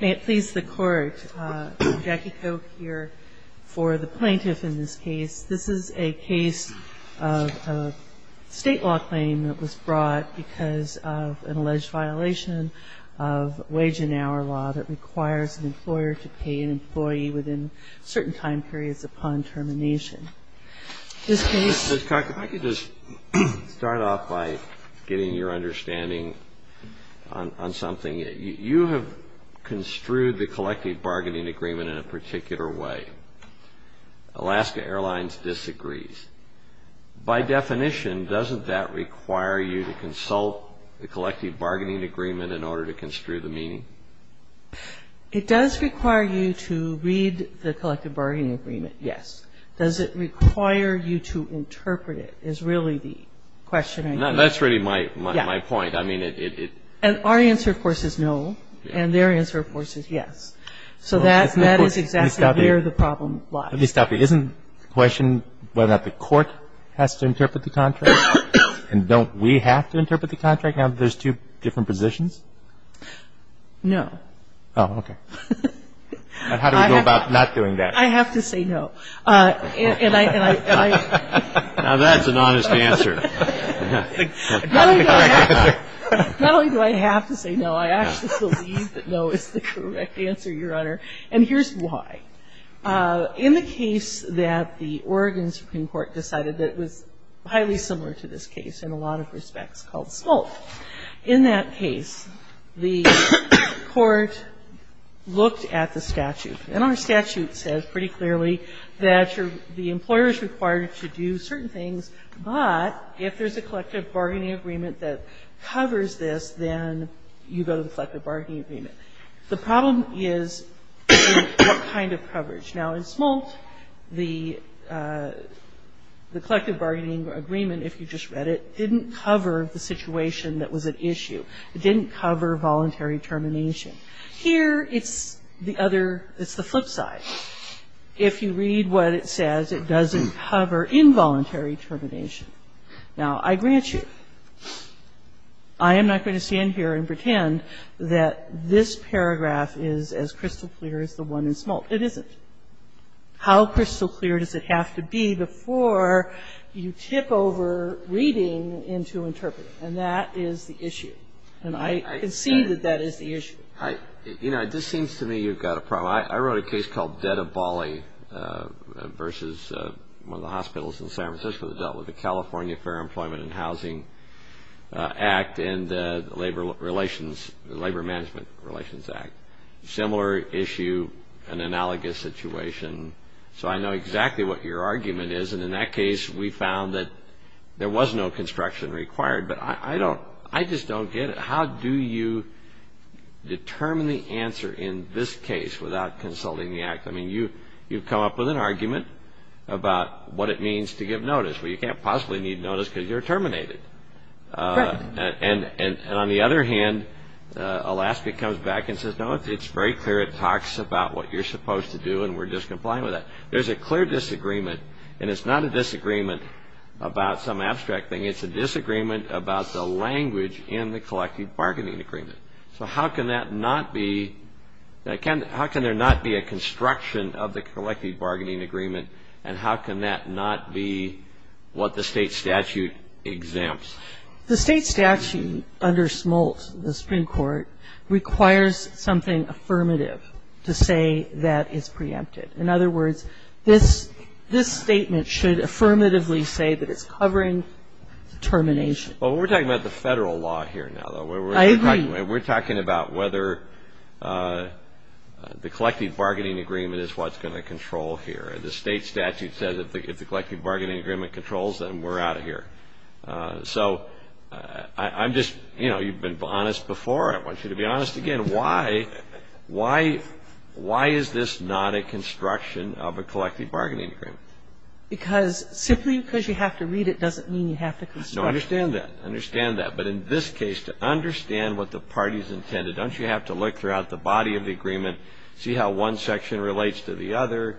May it please the Court, Jackie Koch here for the plaintiff in this case. This is a case of a state law claim that was brought because of an alleged violation of wage and hour law that requires an employer to pay an employee within certain time periods upon termination. If I could just start off by getting your understanding on something. You have construed the collective bargaining agreement in a particular way. Alaska Airlines disagrees. By definition, doesn't that require you to consult the collective bargaining agreement in order to construe the meaning? It does require you to read the collective bargaining agreement, yes. Does it require you to interpret it is really the question I think. That's really my point. And our answer, of course, is no. And their answer, of course, is yes. So that is exactly where the problem lies. Let me stop you. Isn't the question whether or not the Court has to interpret the contract? And don't we have to interpret the contract now that there's two different positions? No. Oh, okay. How do we go about not doing that? I have to say no. Now that's an honest answer. Not only do I have to say no, I actually believe that no is the correct answer, Your Honor. And here's why. In the case that the Oregon Supreme Court decided that was highly similar to this case in a lot of respects called Smolt. In that case, the Court looked at the statute. And our statute says pretty clearly that the employer is required to do certain things, but if there's a collective bargaining agreement that covers this, then you go to the collective bargaining agreement. The problem is what kind of coverage. Now, in Smolt, the collective bargaining agreement, if you just read it, didn't cover the situation that was at issue. It didn't cover voluntary termination. Here, it's the other, it's the flip side. If you read what it says, it doesn't cover involuntary termination. Now, I grant you, I am not going to stand here and pretend that this paragraph is as crystal clear as the one in Smolt. It isn't. How crystal clear does it have to be before you tip over reading into interpreting? And that is the issue. And I concede that that is the issue. You know, it just seems to me you've got a problem. I wrote a case called Debt of Bali versus one of the hospitals in San Francisco that dealt with the California Fair Employment and Housing Act and the Labor Relations Act, similar issue, an analogous situation. So I know exactly what your argument is. And in that case, we found that there was no construction required. But I don't, I just don't get it. How do you determine the answer in this case without consulting the act? I mean, you've come up with an argument about what it means to give notice. Well, you can't possibly need notice because you're terminated. And on the other hand, Alaska comes back and says, no, it's very clear. It talks about what you're supposed to do, and we're just complying with that. There's a clear disagreement, and it's not a disagreement about some abstract thing. It's a disagreement about the language in the collective bargaining agreement. So how can that not be, how can there not be a construction of the collective bargaining agreement, and how can that not be what the state statute exempts? The state statute under Smolt, the Supreme Court, requires something affirmative to say that it's preempted. In other words, this statement should affirmatively say that it's covering termination. Well, we're talking about the federal law here now, though. I agree. We're talking about whether the collective bargaining agreement is what's going to control here. The state statute says if the collective bargaining agreement controls, then we're out of here. So I'm just, you know, you've been honest before. I want you to be honest again. Why is this not a construction of a collective bargaining agreement? Because simply because you have to read it doesn't mean you have to construct it. No, I understand that. I understand that. But in this case, to understand what the party's intended, don't you have to look throughout the body of the agreement, see how one section relates to the other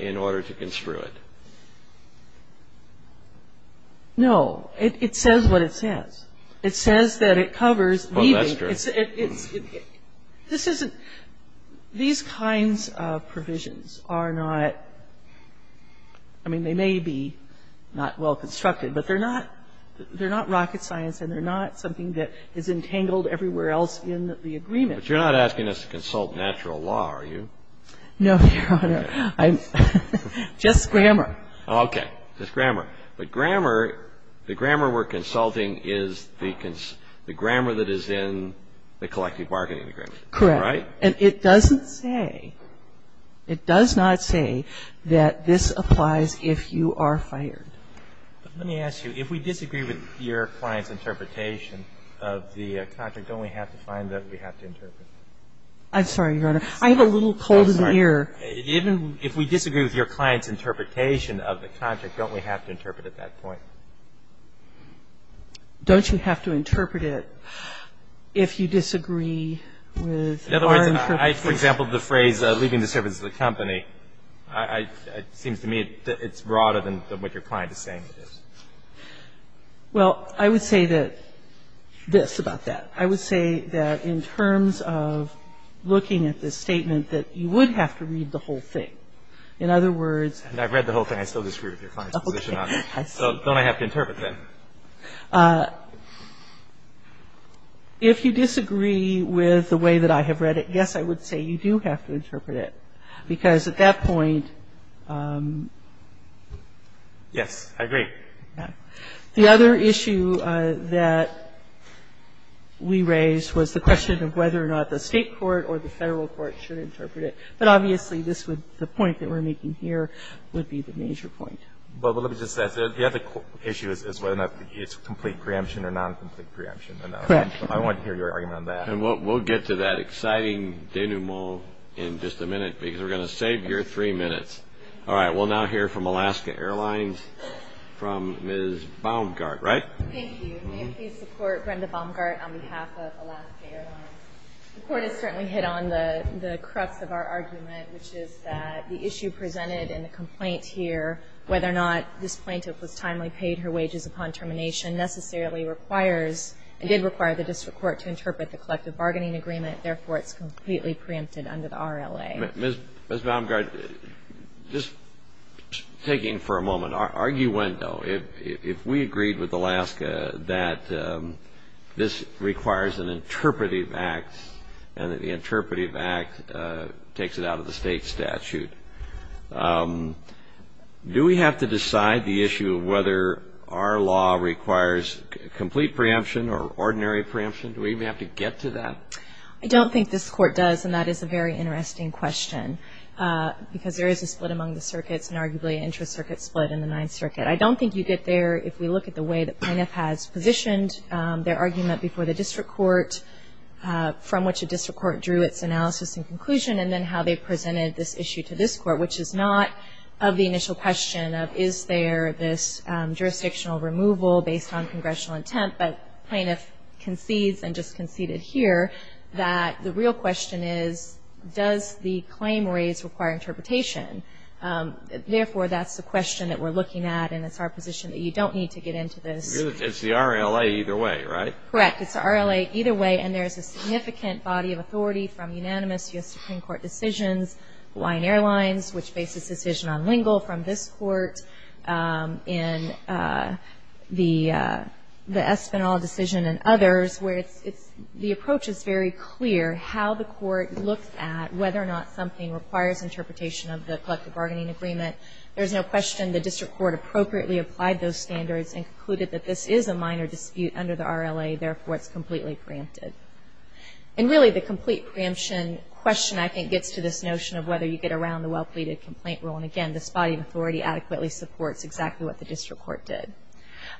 in order to construe it? No. It says what it says. It says that it covers leaving. Well, that's true. This isn't these kinds of provisions are not, I mean, they may be not well constructed, but they're not rocket science and they're not something that is entangled everywhere else in the agreement. But you're not asking us to consult natural law, are you? No, Your Honor. I'm just grammar. Okay. Just grammar. But grammar, the grammar we're consulting is the grammar that is in the collective bargaining agreement. Correct. Right? And it doesn't say, it does not say that this applies if you are fired. Let me ask you, if we disagree with your client's interpretation of the contract, don't we have to find that we have to interpret? I'm sorry, Your Honor. I have a little cold in the ear. Even if we disagree with your client's interpretation of the contract, don't we have to interpret at that point? Don't you have to interpret it if you disagree with our interpretation? In other words, I, for example, the phrase, leaving the service of the company, Well, I would say that this about that. I would say that in terms of looking at this statement, that you would have to read the whole thing. In other words, And I've read the whole thing. I still disagree with your client's position on it. Okay. I see. So don't I have to interpret then? If you disagree with the way that I have read it, yes, I would say you do have to interpret it, because at that point Yes, I agree. The other issue that we raised was the question of whether or not the state court or the federal court should interpret it. But obviously, the point that we're making here would be the major point. But let me just say, the other issue is whether or not it's complete preemption or non-complete preemption. Correct. I want to hear your argument on that. And we'll get to that exciting denouement in just a minute, because we're going to save your three minutes. All right. We'll now hear from Alaska Airlines, from Ms. Baumgart, right? Thank you. May I please support Brenda Baumgart on behalf of Alaska Airlines? The court has certainly hit on the crux of our argument, which is that the issue presented in the complaint here, whether or not this plaintiff was timely paid her wages upon termination, necessarily requires, and did require, the district court to interpret the collective bargaining agreement. Therefore, it's completely preempted under the RLA. Ms. Baumgart, just taking for a moment, arguendo. If we agreed with Alaska that this requires an interpretive act and that the interpretive act takes it out of the state statute, do we have to decide the issue of whether our law requires complete preemption or ordinary preemption? Do we even have to get to that? I don't think this court does, and that is a very interesting question, because there is a split among the circuits, and arguably an intra-circuit split in the Ninth Circuit. I don't think you get there if we look at the way the plaintiff has positioned their argument before the district court, from which the district court drew its analysis and conclusion, and then how they presented this issue to this court, which is not of the initial question of is there this jurisdictional removal based on congressional intent, but plaintiff concedes and just conceded here that the real question is does the claim raise require interpretation? Therefore, that's the question that we're looking at, and it's our position that you don't need to get into this. It's the RLA either way, right? Correct. It's the RLA either way, and there's a significant body of authority from unanimous U.S. Supreme Court decisions, Hawaiian Airlines, which bases its decision on Lingle from this court, in the Espinal decision and others, where it's the approach is very clear how the court looks at whether or not something requires interpretation of the collective bargaining agreement. There's no question the district court appropriately applied those standards and concluded that this is a minor dispute under the RLA. Therefore, it's completely preempted. And really, the complete preemption question, I think, gets to this notion of whether you get around the well-pleaded complaint rule. And again, this body of authority adequately supports exactly what the district court did.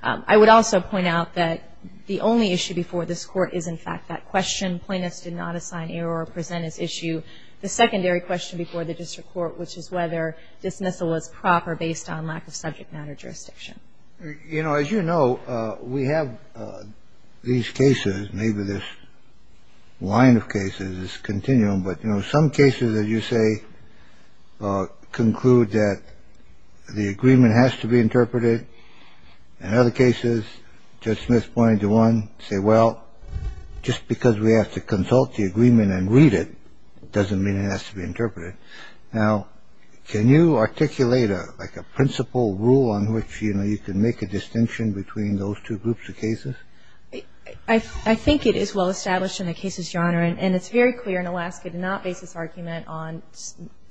I would also point out that the only issue before this court is, in fact, that question. Plaintiffs did not assign error or present as issue. The secondary question before the district court, which is whether dismissal is proper based on lack of subject matter jurisdiction. You know, as you know, we have these cases, maybe this line of cases, this continuum. But, you know, some cases, as you say, conclude that the agreement has to be interpreted. In other cases, Judge Smith pointed to one, say, well, just because we have to consult the agreement and read it doesn't mean it has to be interpreted. Now, can you articulate, like, a principle rule on which, you know, you can make a distinction between those two groups of cases? I think it is well-established in the cases genre. And it's very clear in Alaska to not base this argument on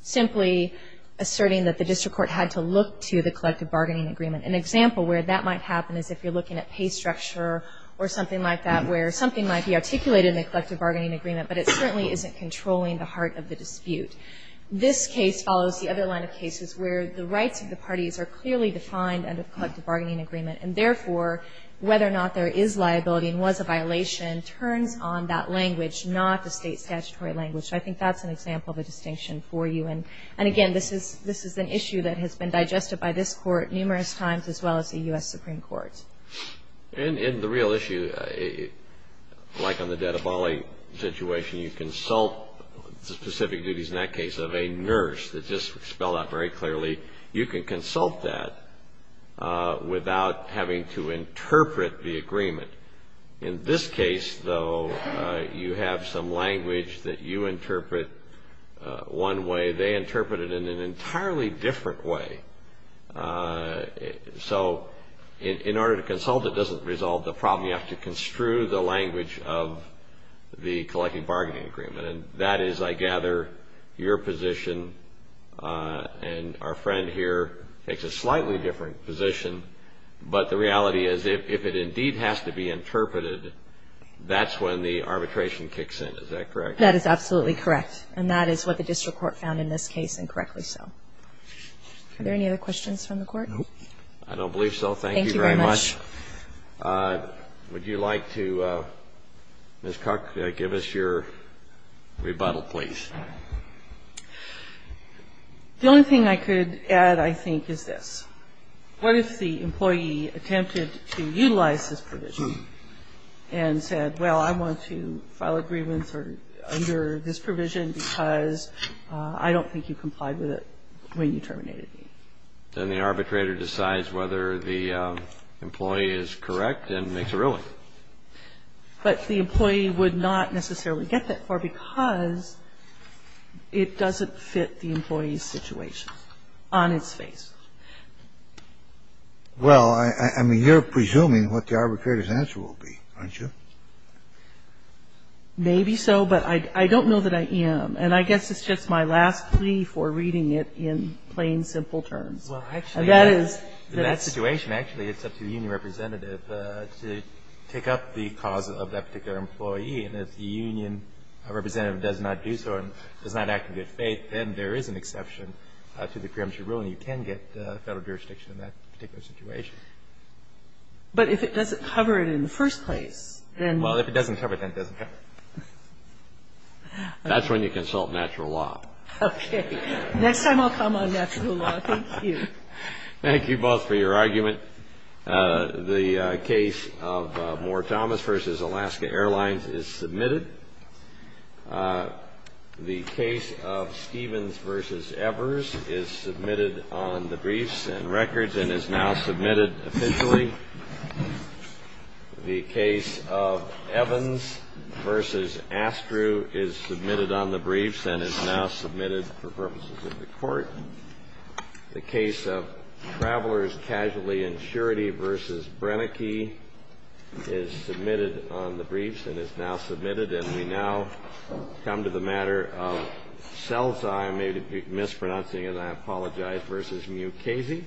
simply asserting that the district court had to look to the collective bargaining agreement. An example where that might happen is if you're looking at pay structure or something like that, where something might be articulated in the collective bargaining agreement, but it certainly isn't controlling the heart of the dispute. This case follows the other line of cases where the rights of the parties are clearly defined under the collective bargaining agreement. And, therefore, whether or not there is liability and was a violation turns on that language, not the state statutory language. So I think that's an example of a distinction for you. And, again, this is an issue that has been digested by this court numerous times, as well as the U.S. Supreme Court. And the real issue, like on the Dadabali situation, you consult the specific duties, in that case, of a nurse. That's just spelled out very clearly. You can consult that without having to interpret the agreement. In this case, though, you have some language that you interpret one way. They interpret it in an entirely different way. So in order to consult, it doesn't resolve the problem. You have to construe the language of the collective bargaining agreement. And that is, I gather, your position. And our friend here takes a slightly different position. But the reality is if it indeed has to be interpreted, that's when the arbitration kicks in. Is that correct? That is absolutely correct. And that is what the district court found in this case, and correctly so. Are there any other questions from the court? Thank you very much. Thank you very much. Would you like to, Ms. Cook, give us your rebuttal, please? The only thing I could add, I think, is this. What if the employee attempted to utilize this provision and said, well, I want to file agreements under this provision because I don't think you complied with it when you terminated me? Then the arbitrator decides whether the employee is correct and makes a ruling. But the employee would not necessarily get that for because it doesn't fit the employee's situation on its face. Well, I mean, you're presuming what the arbitrator's answer will be, aren't you? Maybe so, but I don't know that I am. And I guess it's just my last plea for reading it in plain, simple terms. And that is that that situation, actually, it's up to the union representative to pick up the cause of that particular employee. And if the union representative does not do so and does not act in good faith, then there is an exception to the preemptive ruling. You can get Federal jurisdiction in that particular situation. But if it doesn't cover it in the first place, then you can't. Well, if it doesn't cover it, then it doesn't cover it. That's when you consult natural law. Okay. Next time I'll come on natural law. Thank you. Thank you both for your argument. The case of Moore Thomas v. Alaska Airlines is submitted. The case of Stevens v. Evers is submitted on the briefs and records and is now submitted officially. The case of Evans v. Astru is submitted on the briefs and is now submitted for purposes of the court. The case of Travelers Casually Insurety v. Brennecke is submitted on the briefs and is now submitted. And we now come to the matter of Selzheim, mispronouncing it, I apologize, v. Mukasey. Thank you.